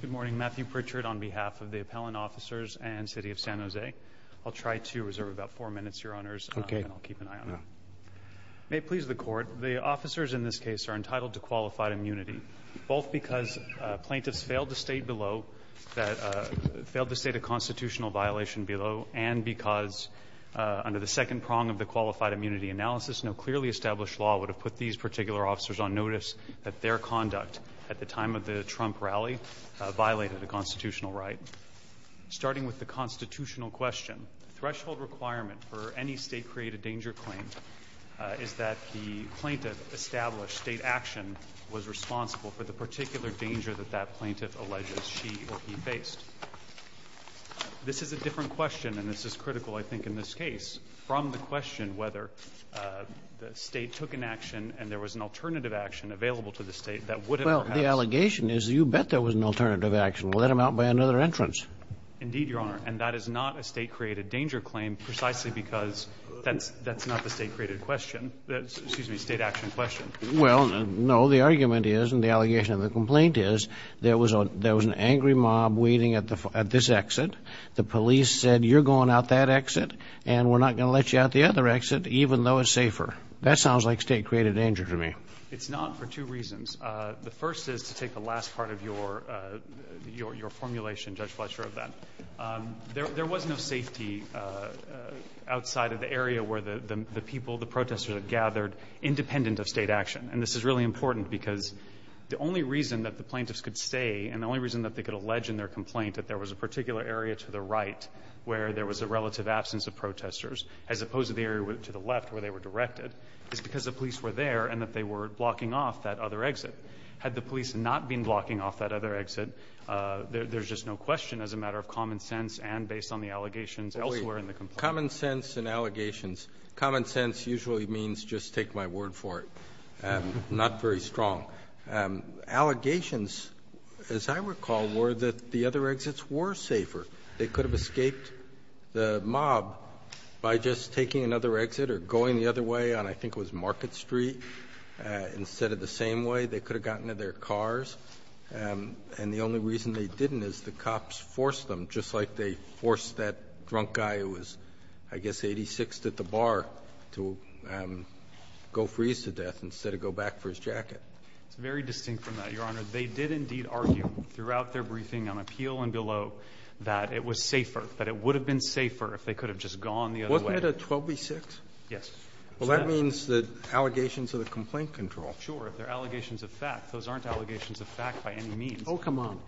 Good morning Matthew Pritchard on behalf of the appellant officers and City of San Jose. I'll try to reserve about four minutes your honors okay I'll keep an eye on that. May it please the court the officers in this case are entitled to qualified immunity both because plaintiffs failed to state below that failed to state a constitutional violation below and because under the second prong of the qualified immunity analysis no clearly established law would have put these particular officers on notice that their conduct at the time of the Trump rally violated a constitutional right. Starting with the constitutional question threshold requirement for any state created danger claim is that the plaintiff established state action was responsible for the particular danger that that plaintiff alleges she or he faced. This is a different question and this is critical I think in this case from the question whether the state took an action and there was an alternative action available to the state that would have. Well the allegation is you bet there was an alternative action let him out by another entrance. Indeed your honor and that is not a state created danger claim precisely because that's that's not the state created question that excuse me state action question. Well no the argument is and the allegation of the complaint is there was a there was an angry mob waiting at the at this exit the police said you're going out that exit and we're not gonna let you out the other exit even though it's safer. That two reasons the first is to take the last part of your your formulation Judge Fletcher of that. There was no safety outside of the area where the people the protesters had gathered independent of state action and this is really important because the only reason that the plaintiffs could stay and the only reason that they could allege in their complaint that there was a particular area to the right where there was a relative absence of protesters as opposed to the area to the left where they were directed is because the police were there and that they were blocking off that other exit. Had the police not been blocking off that other exit there's just no question as a matter of common sense and based on the allegations elsewhere in the complaint. Common sense and allegations. Common sense usually means just take my word for it and not very strong. Allegations as I recall were that the other exits were safer. They could have escaped the mob by just taking another exit or going the other way on I 83 instead of the same way they could have gotten to their cars and the only reason they didn't is the cops forced them just like they forced that drunk guy who was I guess 86 at the bar to go freeze to death instead of go back for his jacket. It's very distinct from that your honor. They did indeed argue throughout their briefing on appeal and below that it was safer. That it would have been safer if they could have just gone the other way. Wasn't it a 12 v 6? Yes. Well that means that allegations of a complaint control. Sure. If they're allegations of fact. Those aren't allegations of fact by any means. Oh come on.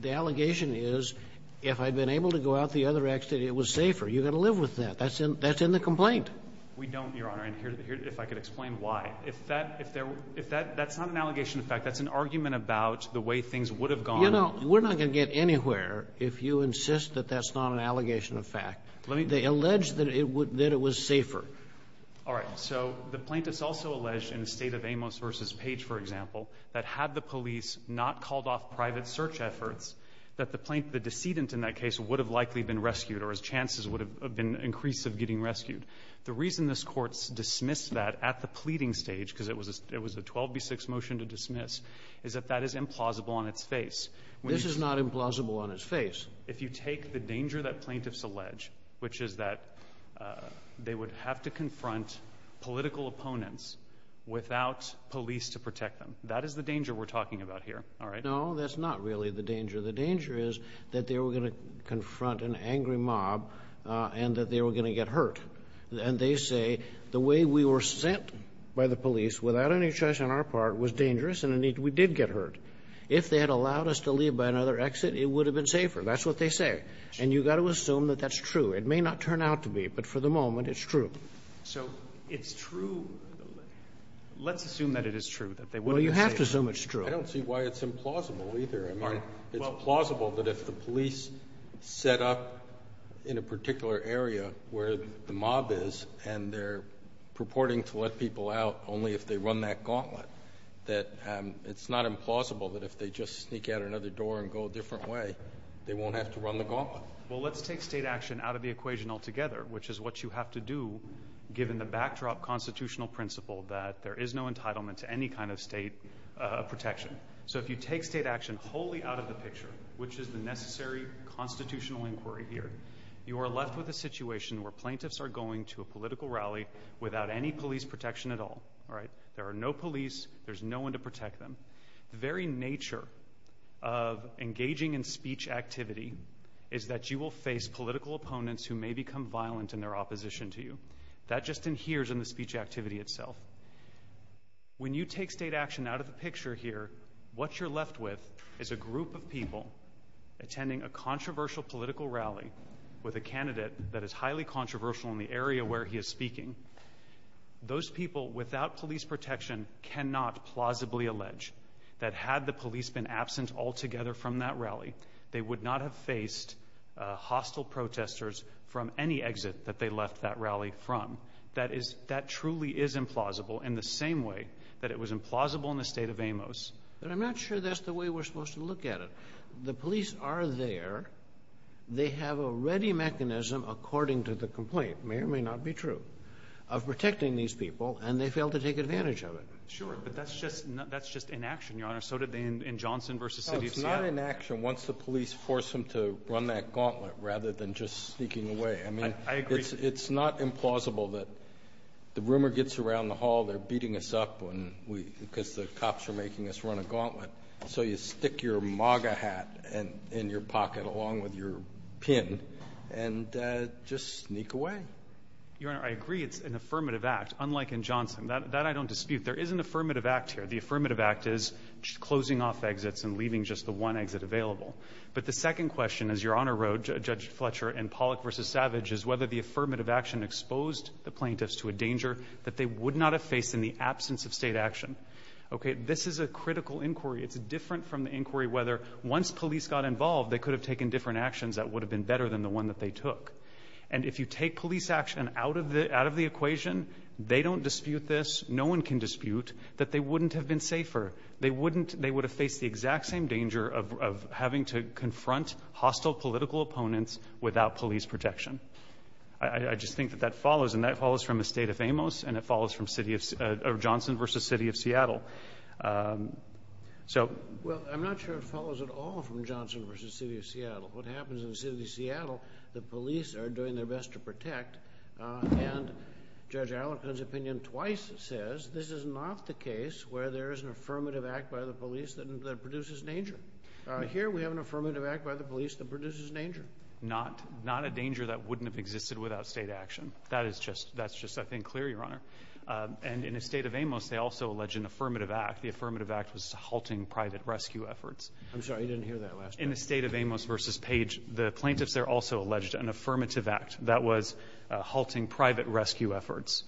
The allegation is if I'd been able to go out the other exit it was safer. You got to live with that. That's in the complaint. We don't your honor and here if I could explain why. If that if that's not an allegation of fact that's an argument about the way things would have gone. You know we're not going to get anywhere if you insist that that's not an allegation of fact. Let me. They allege that it was safer. All right. So the plaintiffs also allege in the state of Amos versus page for example that had the police not called off private search efforts that the plaintiff the decedent in that case would have likely been rescued or his chances would have been increase of getting rescued. The reason this courts dismissed that at the pleading stage because it was it was a 12 v 6 motion to dismiss is that that is implausible on its face. This is not implausible on his face. If you take the danger that plaintiffs allege which is that uh they would have to front political opponents without police to protect them. That is the danger we're talking about here. All right. No that's not really the danger. The danger is that they were going to confront an angry mob and that they were going to get hurt. And they say the way we were sent by the police without any choice on our part was dangerous and indeed we did get hurt. If they had allowed us to leave by another exit it would have been safer. That's what they say. And you've got to assume that that's true. It may not turn out to be but for the moment it's true. So it's true. Let's assume that it is true that they will. You have to assume it's true. I don't see why it's implausible either. I mean it's plausible that if the police set up in a particular area where the mob is and they're purporting to let people out only if they run that gauntlet that it's not implausible that if they just sneak out another door and go a different way they won't have to run the gauntlet. Well let's take state action out of the equation altogether which is what you have to do given the backdrop constitutional principle that there is no entitlement to any kind of state protection. So if you take state action wholly out of the picture which is the necessary constitutional inquiry here you are left with a situation where plaintiffs are going to a political rally without any police protection at all. All right. There are no police. There's no one to protect them. The very opponents who may become violent in their opposition to you. That just inheres in the speech activity itself. When you take state action out of the picture here what you're left with is a group of people attending a controversial political rally with a candidate that is highly controversial in the area where he is speaking. Those people without police protection cannot plausibly allege that had the police been absent altogether from that rally they would not have faced hostile protesters from any exit that they left that rally from. That is that truly is implausible in the same way that it was implausible in the state of Amos. But I'm not sure that's the way we're supposed to look at it. The police are there. They have a ready mechanism according to the complaint may or may not be true of protecting these people and they fail to take advantage of it. Sure but that's just that's just inaction your honor so did in Johnson versus city of Seattle. It's not inaction once the police force them to run that gauntlet rather than just sneaking away. I mean I agree it's it's not implausible that the rumor gets around the hall they're beating us up when we because the cops are making us run a gauntlet so you stick your MAGA hat and in your pocket along with your pin and just sneak away. Your honor I agree it's an affirmative act unlike in Johnson that that I don't dispute there is an affirmative action in the absence of state action. Okay this is a critical inquiry. It's different from the inquiry whether once police got involved they could have taken different actions that would have been better than the one that they took. And if you take police action out of the out of the equation they don't dispute this. No one can dispute that they wouldn't have been safer. They face the exact same danger of having to confront hostile political opponents without police protection. I just think that that follows and that follows from the state of Amos and it follows from city of Johnson versus city of Seattle. So well I'm not sure it follows at all from Johnson versus city of Seattle. What happens in the city of Seattle the police are doing their best to protect and Judge Allen's opinion twice says this is not the case where there is an affirmative act by the police that produces danger. Here we have an affirmative act by the police that produces danger. Not not a danger that wouldn't have existed without state action. That is just that's just I think clear your honor. And in the state of Amos they also allege an affirmative act. The affirmative act was halting private rescue efforts. I'm sorry you didn't hear that last time. In the state of Amos versus Page the plaintiffs there also alleged an affirmative act that was halting private rescue efforts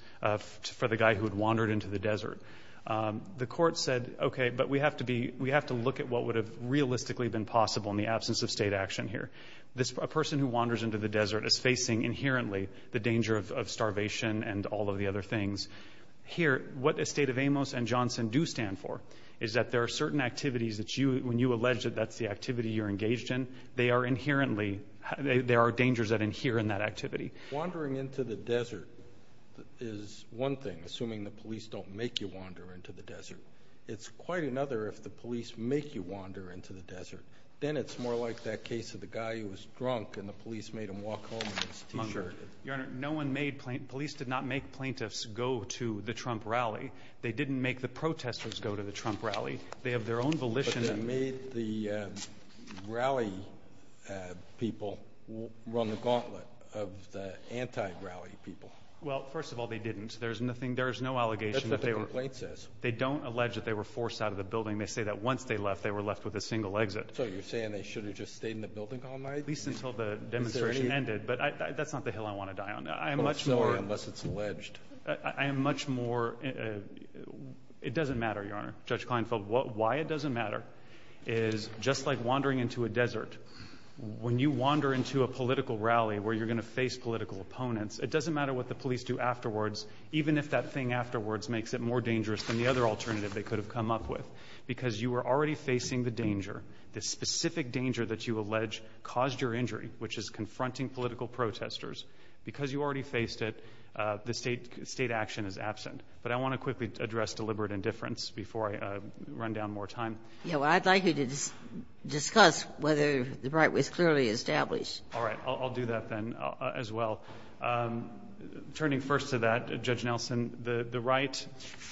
for the guy who had wandered into the desert. The but we have to be we have to look at what would have realistically been possible in the absence of state action here. This person who wanders into the desert is facing inherently the danger of starvation and all of the other things here. What the state of Amos and Johnson do stand for is that there are certain activities that you when you allege that that's the activity you're engaged in. They are inherently there are dangers that in here in that activity wandering into the desert is one thing. Assuming the police don't make you wander into the desert. It's quite another if the police make you wander into the desert. Then it's more like that case of the guy who was drunk and the police made him walk home in his t-shirt. Your honor no one made police did not make plaintiffs go to the Trump rally. They didn't make the protesters go to the Trump rally. They have their own volition. But they made the rally people run the gauntlet of the anti rally people. Well first of all they didn't. There's nothing. There's no allegation. They don't allege that they were forced out of the building. They say that once they left they were left with a single exit. So you're saying they should have just stayed in the building at least until the demonstration ended. But that's not the hill I want to die on. I'm much more unless it's alleged. I am much more. It doesn't matter. Your honor Judge Klinefeld. What why it doesn't matter is just like wandering into a desert when you wander into a political rally where you're going to face political opponents. It doesn't matter what the even if that thing afterwards makes it more dangerous than the other alternative they could have come up with because you were already facing the danger. The specific danger that you allege caused your injury which is confronting political protesters because you already faced it. The state state action is absent. But I want to quickly address deliberate indifference before I run down more time. You know I'd like you to discuss whether the right was clearly established. All right, I'll do that then as well. Um, turning first to that judge Nelson, the right,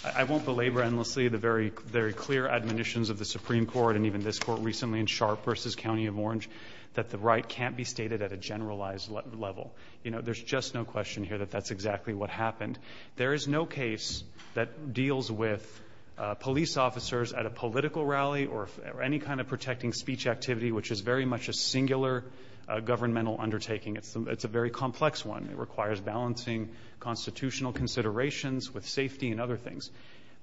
I won't belabor endlessly the very, very clear admonitions of the Supreme Court and even this court recently in sharp versus County of Orange that the right can't be stated at a generalized level. You know, there's just no question here that that's exactly what happened. There is no case that deals with police officers at a political rally or any kind of protecting speech activity, which is very much a singular governmental undertaking. It's a very complex one. It requires balancing constitutional considerations with safety and other things.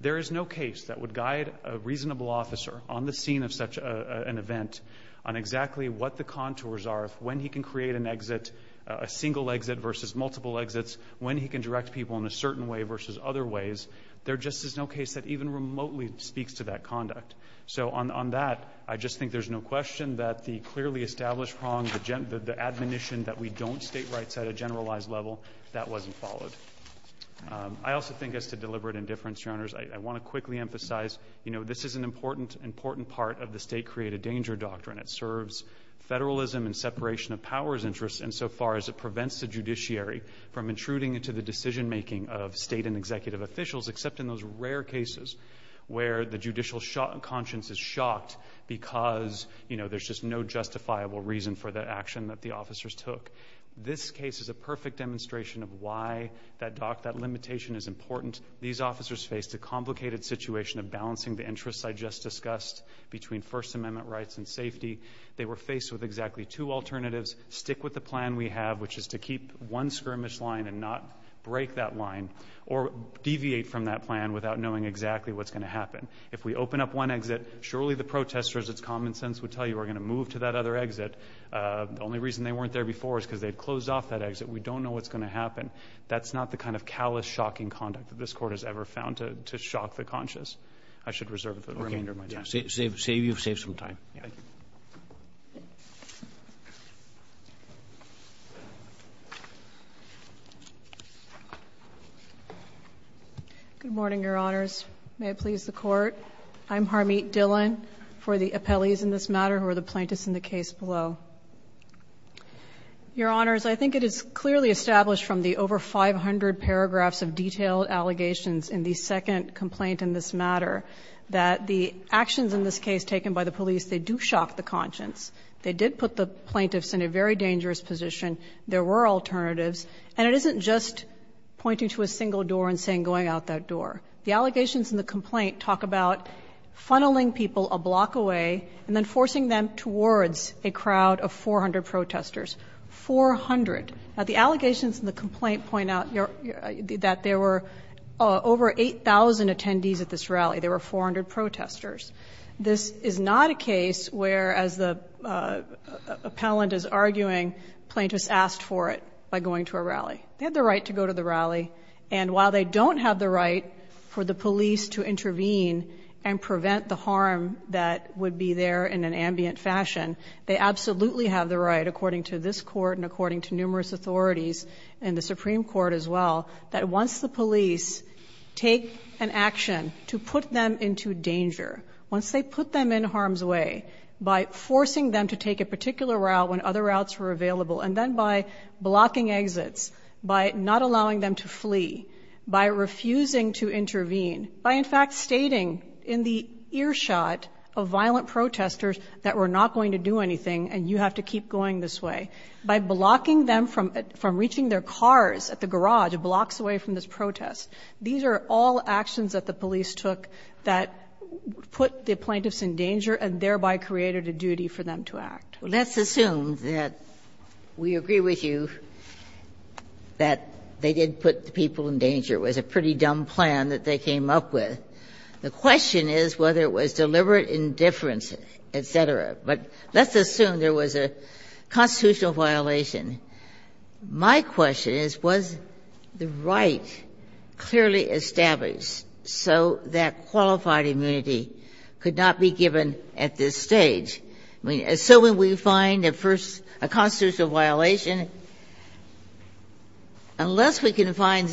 There is no case that would guide a reasonable officer on the scene of such an event on exactly what the contours are, when he can create an exit, a single exit versus multiple exits, when he can direct people in a certain way versus other ways. There just is no case that even remotely speaks to that conduct. So on that, I just think there's no question that the clearly established wrong, the admonition that we don't state rights at a generalized level, that wasn't followed. I also think as to deliberate indifference, Your Honors, I want to quickly emphasize, you know, this is an important, important part of the state created danger doctrine. It serves federalism and separation of powers interests insofar as it prevents the judiciary from intruding into the decision making of state and executive officials, except in those rare cases where the judicial conscience is shocked because, you know, there's just no justifiable reason for the action that the officers took. This case is a perfect demonstration of why that doc, that limitation is important. These officers faced a complicated situation of balancing the interests I just discussed between First Amendment rights and safety. They were faced with exactly two alternatives. Stick with the plan we have, which is to keep one skirmish line and not break that line or deviate from that plan without knowing exactly what's going to happen. If we open up one exit, surely the protesters, it's common sense would tell you we're going to move to that other exit. The only reason they weren't there before is because they closed off that exit. We don't know what's going to happen. That's not the kind of callous, shocking conduct that this court has ever found to shock the conscious. I should reserve the remainder of my time. Save some time. Good morning, Your Honors. May it please the Court. I'm Harmeet Dhillon for the appellees in this matter who are the plaintiffs in the case below. Your Honors, I think it is clearly established from the over 500 paragraphs of detailed allegations in the second complaint in this matter that the actions in this case taken by the police, they do shock the conscience. They did put the plaintiffs in a very dangerous position. There were alternatives. And it isn't just pointing to a single door and saying, going out that door. The allegations in the complaint talk about funneling people a block away and then forcing them towards a crowd of 400 protesters. Four hundred. Now, the allegations in the complaint point out that there were over 8,000 attendees at this rally. There were 400 protesters. This is not a case where, as the appellant is arguing, plaintiffs asked for it by going to a rally. They had the right to go to the rally. And while they don't have the right for the police to intervene and prevent the harm that would be there in an ambient fashion, they absolutely have the right, according to this Court and according to numerous authorities and the Supreme Court as well, that once the police take an action to put them into danger, once they put them in harm's way by forcing them to take a particular route when other routes were available and then by blocking exits, by not allowing them to flee, by refusing to intervene, by in fact stating in the earshot of violent protesters that we're not going to do anything and you have to keep going this way, by blocking them from reaching their cars at the garage blocks away from this protest. These are all actions that the police took that put the plaintiffs in danger and thereby created a duty for them to act. Ginsburg. Let's assume that we agree with you that they did put the people in danger. It was a pretty dumb plan that they came up with. The question is whether it was deliberate indifference, et cetera. But let's assume there was a constitutional violation. My question is, was the right clearly established so that qualified immunity could not be given at this stage? I mean, assuming we find at first a constitutional violation, unless we can find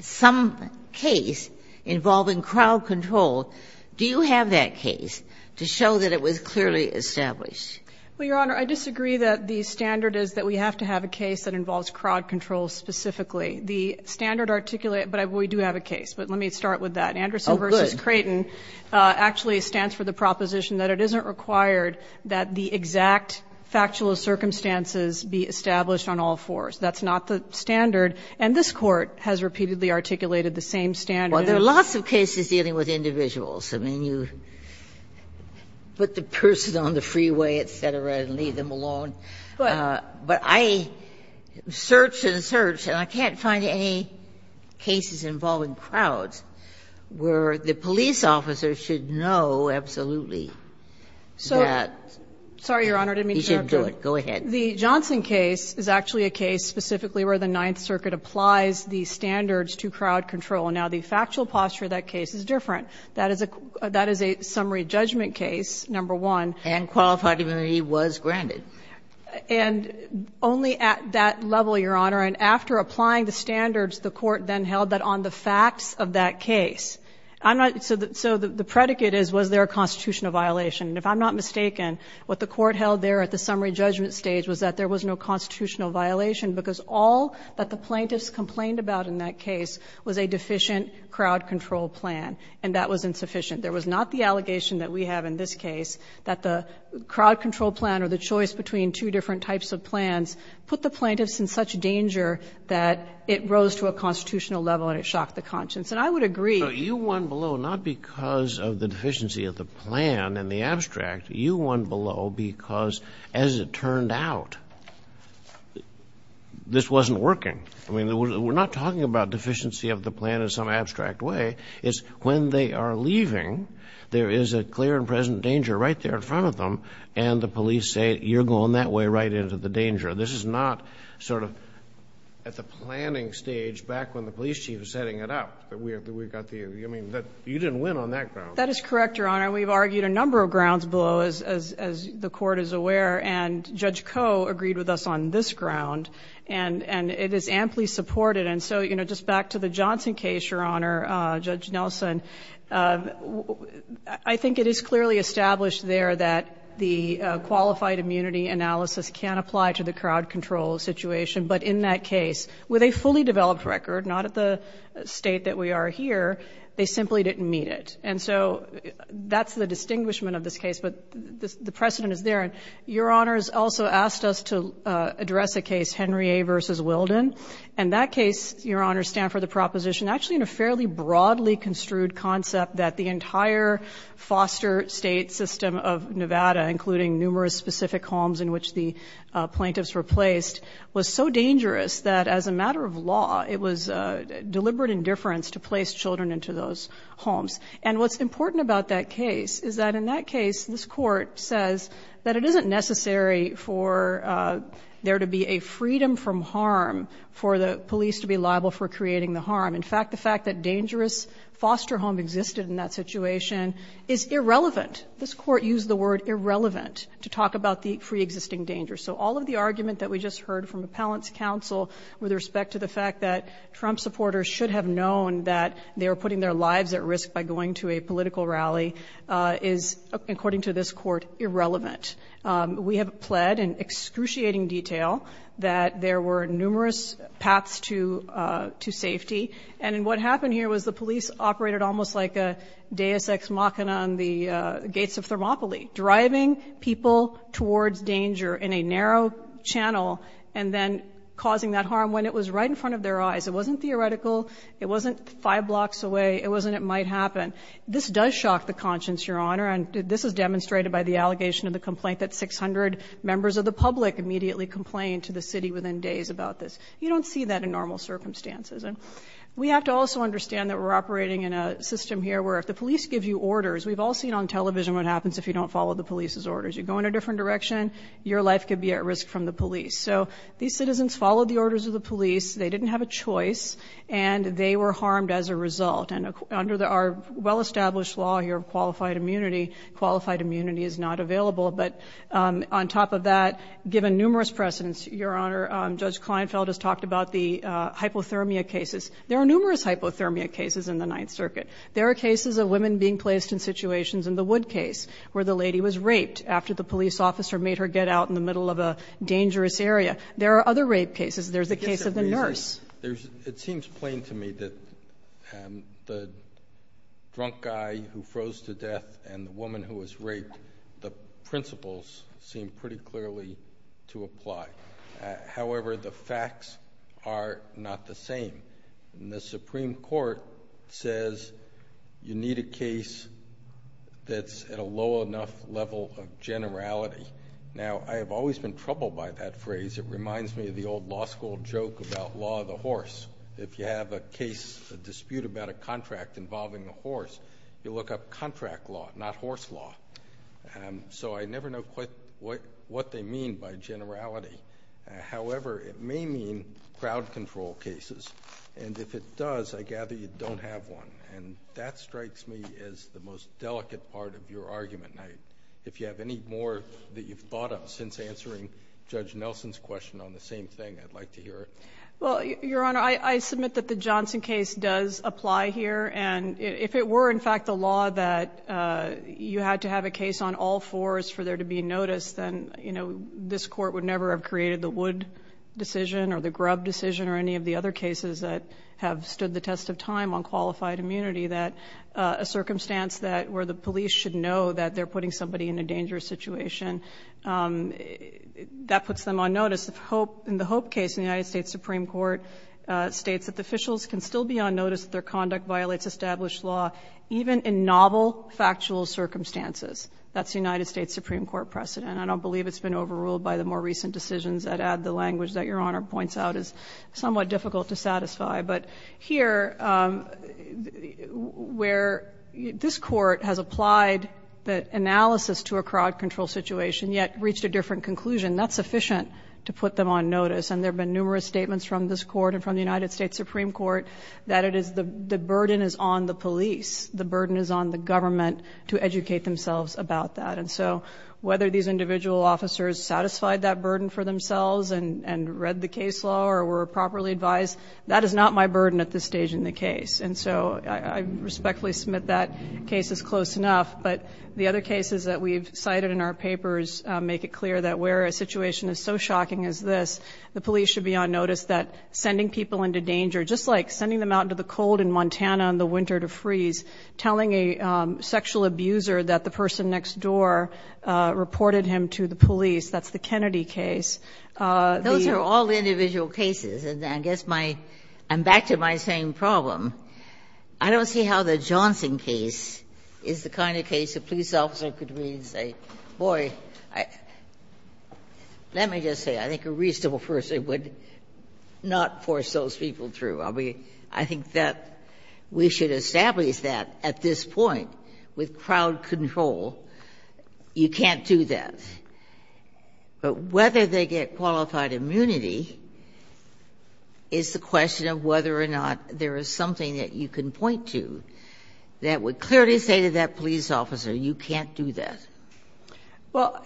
some case involving crowd control, do you have that case to show that it was clearly established? Well, Your Honor, I disagree that the standard is that we have to have a case that involves crowd control specifically. The standard articulate, but we do have a case, but let me start with that. Anderson v. Creighton actually stands for the proposition that it isn't required that the exact factual circumstances be established on all fours. That's not the standard, and this Court has repeatedly articulated the same standard. Well, there are lots of cases dealing with individuals. I mean, you put the person on the freeway, et cetera, and leave them alone. But I search and search, and I can't find any cases involving crowds where the police officer should know absolutely that he should do it. Go ahead. The Johnson case is actually a case specifically where the Ninth Circuit applies the standards to crowd control. Now, the factual posture of that case is different. That is a summary judgment case, number one. And qualified immunity was granted. And only at that level, Your Honor. And after applying the standards, the Court then held that on the facts of that case. I'm not so the predicate is was there a constitutional violation. And if I'm not mistaken, what the Court held there at the summary judgment stage was that there was no constitutional violation, because all that the plaintiffs complained about in that case was a deficient crowd control plan. And that was insufficient. There was not the allegation that we have in this case that the crowd control plan or the choice between two different types of plans put the plaintiffs in such danger that it rose to a constitutional level and it shocked the conscience. And I would agree. But you won below not because of the deficiency of the plan and the abstract. You won below because, as it turned out, this wasn't working. I mean, we're not talking about deficiency of the plan in some abstract way. It's when they are leaving, there is a clear and present danger right there in front of them, and the police say, you're going that way right into the danger. This is not sort of at the planning stage back when the police chief was setting it up. We've got the, I mean, you didn't win on that ground. That is correct, Your Honor. We've argued a number of grounds below, as the Court is aware. And Judge Koh agreed with us on this ground. And it is amply supported. And so, you know, just back to the Johnson case, Your Honor, Judge Nelson, I think it is clearly established there that the qualified immunity analysis can apply to the crowd control situation. But in that case, with a fully developed record, not at the state that we are here, they simply didn't meet it. And so that's the distinguishment of this case, but the precedent is there. And Your Honor has also asked us to address a case, Henry A versus Wilden. And that case, Your Honor, stand for the proposition actually in a fairly broadly construed concept that the entire foster state system of Nevada, including numerous specific homes in which the plaintiffs were placed, was so dangerous that as a matter of law, it was deliberate indifference to place children into those homes. And what's important about that case is that in that case, this court says that it isn't necessary for there to be a freedom from harm for the police to be liable for creating the harm. In fact, the fact that dangerous foster home existed in that situation is irrelevant. This court used the word irrelevant to talk about the pre-existing danger. So all of the argument that we just heard from appellant's counsel with respect to the fact that Trump supporters should have known that they were putting their lives at risk by going to a political rally is, according to this court, irrelevant. We have pled in excruciating detail that there were numerous paths to safety. And what happened here was the police operated almost like a deus ex machina on the gates of Thermopylae, driving people towards danger in a narrow channel, and then causing that harm when it was right in front of their eyes. It wasn't theoretical, it wasn't five blocks away, it wasn't it might happen. This does shock the conscience, Your Honor, and this is demonstrated by the allegation of the complaint that 600 members of the public immediately complained to the city within days about this. You don't see that in normal circumstances. And we have to also understand that we're operating in a system here where if the police give you orders, we've all seen on television what happens if you don't follow the police's orders. You go in a different direction, your life could be at risk from the police. So these citizens followed the orders of the police. They didn't have a choice, and they were harmed as a result. And under our well-established law here of qualified immunity, qualified immunity is not available. But on top of that, given numerous precedents, Your Honor, Judge Kleinfeld has talked about the hypothermia cases. There are numerous hypothermia cases in the Ninth Circuit. There are cases of women being placed in situations in the Wood case, where the lady was raped after the police officer made her get out in the middle of a dangerous area. There are other rape cases. There's the case of the nurse. It seems plain to me that the drunk guy who froze to death and the woman who was raped, the principles seem pretty clearly to apply. However, the facts are not the same. And the Supreme Court says you need a case that's at a low enough level of generality. Now, I have always been troubled by that phrase. It reminds me of the old law school joke about law of the horse. If you have a case, a dispute about a contract involving a horse, you look up contract law, not horse law. So I never know quite what they mean by generality. However, it may mean crowd control cases. And if it does, I gather you don't have one. And that strikes me as the most delicate part of your argument. If you have any more that you've thought of since answering Judge Nelson's question on the same thing, I'd like to hear it. Well, Your Honor, I submit that the Johnson case does apply here. And if it were, in fact, the law that you had to have a case on all fours for there to be notice, then this court would never have created the Wood decision or the Grubb decision or any of the other cases that have stood the test of time on qualified immunity that a circumstance where the police should know that they're That puts them on notice. In the Hope case, the United States Supreme Court states that the officials can still be on notice if their conduct violates established law, even in novel factual circumstances. That's the United States Supreme Court precedent. I don't believe it's been overruled by the more recent decisions that add the language that Your Honor points out is somewhat difficult to satisfy. But here, where this court has applied the analysis to a crowd control situation, yet reached a different conclusion. And that's sufficient to put them on notice. And there have been numerous statements from this court and from the United States Supreme Court that the burden is on the police. The burden is on the government to educate themselves about that. And so whether these individual officers satisfied that burden for themselves and read the case law or were properly advised, that is not my burden at this stage in the case. And so I respectfully submit that case is close enough. But the other cases that we've cited in our papers make it clear that where a situation is so shocking as this, the police should be on notice that sending people into danger, just like sending them out into the cold in Montana in the winter to freeze, telling a sexual abuser that the person next door reported him to the police, that's the Kennedy case. Those are all individual cases. And I guess my – I'm back to my same problem. I don't see how the Johnson case is the kind of case a police officer could read and say, boy, let me just say, I think a reasonable person would not force those people through. I mean, I think that we should establish that at this point with crowd control. You can't do that. But whether they get qualified immunity is the question of whether or not there is something that you can point to that would clearly say to that police officer, you can't do that. Well,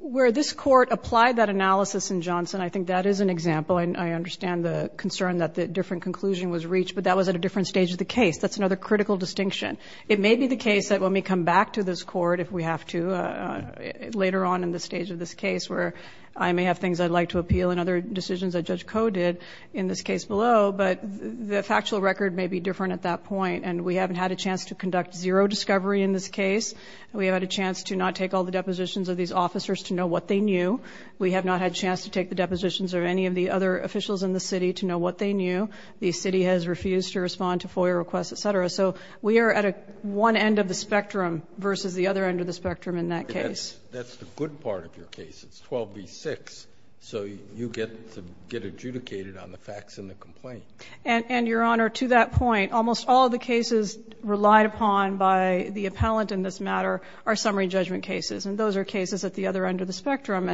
where this Court applied that analysis in Johnson, I think that is an example. I understand the concern that the different conclusion was reached, but that was at a different stage of the case. That's another critical distinction. It may be the case that when we come back to this Court, if we have to, later on in the stage of this case, where I may have things I'd like to appeal and other decisions that Judge Koh did in this case below, but the factual record may be different at that point. And we haven't had a chance to conduct zero discovery in this case. We have had a chance to not take all the depositions of these officers to know what they knew. We have not had a chance to take the depositions of any of the other officials in the city to know what they knew. The city has refused to respond to FOIA requests, et cetera. So we are at one end of the spectrum versus the other end of the spectrum in that case. That's the good part of your case. It's 12 v. 6, so you get to get adjudicated on the facts in the complaint. And, Your Honor, to that point, almost all of the cases relied upon by the appellant in this matter are summary judgment cases. And those are cases at the other end of the spectrum.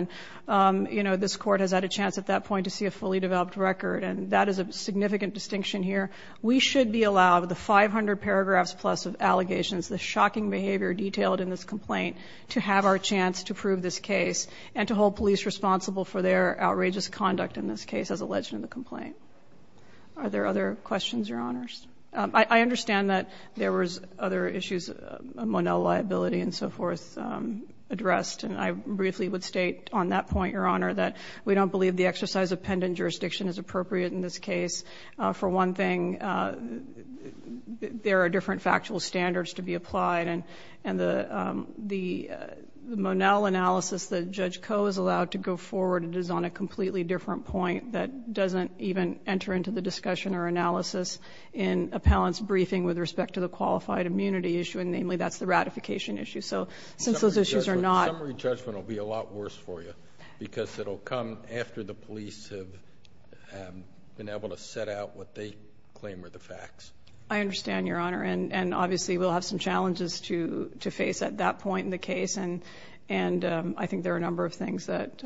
And, you know, this Court has had a chance at that point to see a fully developed record, and that is a significant distinction here. We should be allowed the 500 paragraphs plus of allegations, the shocking behavior detailed in this complaint, to have our chance to prove this case and to hold police responsible for their outrageous conduct in this case as alleged in the complaint. Are there other questions, Your Honors? I understand that there was other issues, Monell liability and so forth, addressed. And I briefly would state on that point, Your Honor, that we don't believe the exercise of pendant jurisdiction is appropriate in this case. For one thing, there are different factual standards to be applied. And the Monell analysis that Judge Koh is allowed to go forward is on a completely different point that doesn't even enter into the discussion or analysis in appellant's briefing with respect to the qualified immunity issue, and namely, that's the ratification issue. So since those issues are not... Summary judgment will be a lot worse for you because it will come after the police have been able to set out what they claim are the facts. I understand, Your Honor. And obviously, we'll have some challenges to face at that point in the case. And I think there are a number of things that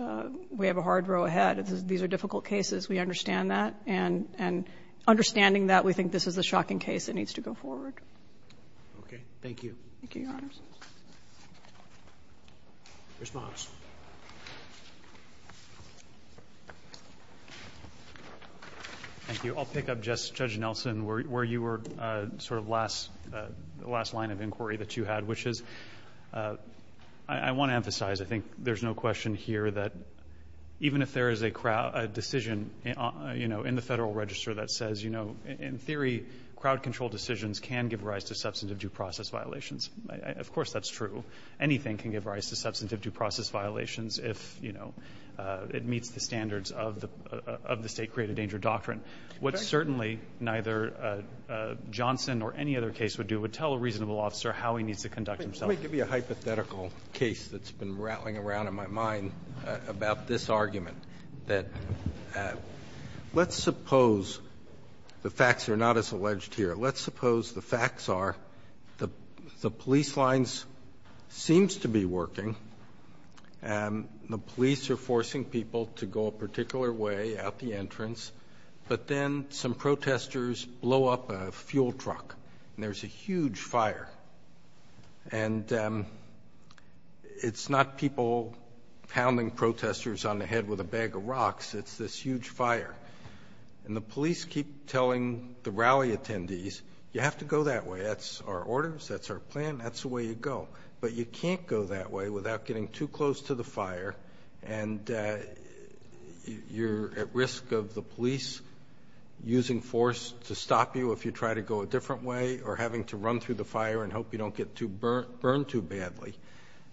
we have a hard row ahead. These are difficult cases. We understand that. And understanding that, we think this is a shocking case that needs to go forward. Okay. Thank you. Thank you, Your Honors. Ms. Moss. Thank you. I'll pick up, Judge Nelson, where you were sort of last line of inquiry that you had, which is, I want to emphasize, I think there's no question here that even if there is a decision in the Federal Register that says, you know, in theory, crowd control decisions can give rise to substantive due process violations, of course that's true. Anything can give rise to substantive due process violations if, you know, it meets the standards of the State Created Danger Doctrine. What certainly neither Johnson or any other case would do would tell a reasonable officer how he needs to conduct himself. Let me give you a hypothetical case that's been rattling around in my mind about this argument, that let's suppose the facts are not as alleged here. Let's suppose the facts are the police lines seems to be working, and the police are forcing people to go a particular way out the entrance, but then some protesters blow up a fuel truck, and there's a huge fire. And it's not people pounding protesters on the head with a bag of rocks, it's this huge fire. And the police keep telling the rally attendees, you have to go that way. That's our orders. That's our plan. That's the way you go. But you can't go that way without getting too close to the fire, and you're at risk of the police using force to stop you if you try to go a different way, or having to run through the fire and hope you don't get burned too badly.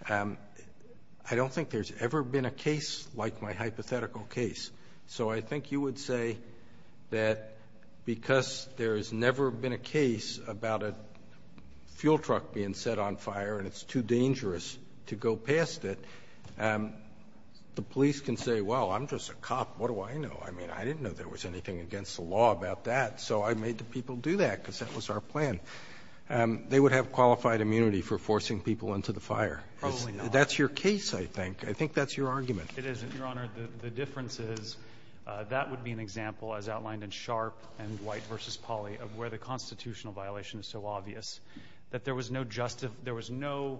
I don't think there's ever been a case like my hypothetical case. So I think you would say that because there's never been a case about a fuel truck being set on fire and it's too dangerous to go past it, the police can say, well, I'm just a cop. What do I know? I mean, I didn't know there was anything against the law about that. So I made the people do that, because that was our plan. They would have qualified immunity for forcing people into the fire. Probably not. That's your case, I think. I think that's your argument. It isn't, Your Honor. The difference is, that would be an example, as outlined in Sharp and White v. Polly, of where the constitutional violation is so obvious, that there was no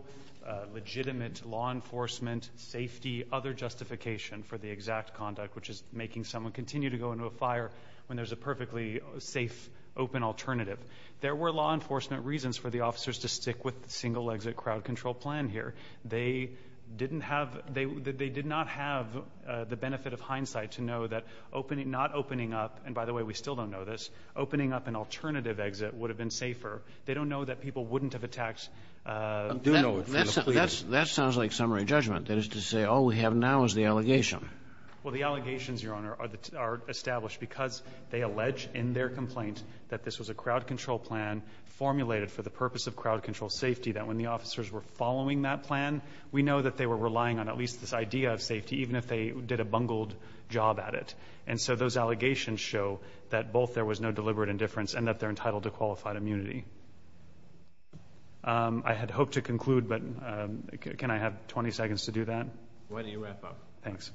legitimate law enforcement safety, other justification for the exact conduct, which is making someone continue to go into a fire when there's a perfectly safe, open alternative. There were law enforcement reasons for the officers to stick with the single-exit crowd control plan here. They did not have the benefit of hindsight to know that not opening up, and by the way, we still don't know this, opening up an alternative exit would have been safer. They don't know that people wouldn't have attacked. Do know it for the police. That sounds like summary judgment, that is to say all we have now is the allegation. Well, the allegations, Your Honor, are established because they allege in their complaint that this was a crowd control plan formulated for the purpose of crowd control safety, that when the officers were following that plan, we know that they were relying on at least this idea of safety, even if they did a bungled job at it. And so those allegations show that both there was no deliberate indifference and that they're entitled to qualified immunity. I had hoped to conclude, but can I have 20 seconds to do that? Why don't you wrap up? Thanks.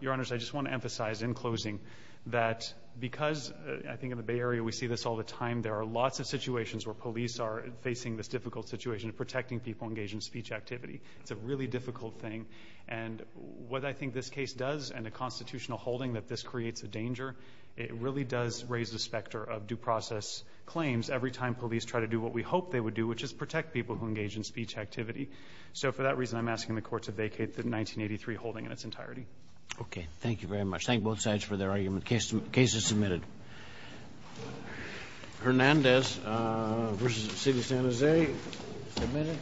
Your Honors, I just want to emphasize in closing that because I think in the Bay Area we see this all the time, there are lots of situations where police are facing this difficult situation of protecting people engaged in speech activity. It's a really difficult thing. And what I think this case does and the constitutional holding that this creates a danger, it really does raise the specter of due process claims every time police try to do what we hope they would do, which is protect people who engage in speech activity. So for that reason, I'm asking the Court to vacate the 1983 holding in its entirety. Okay. Thank you very much. Thank both sides for their argument. The case is submitted. Hernandez v. City of San Jose, submitted.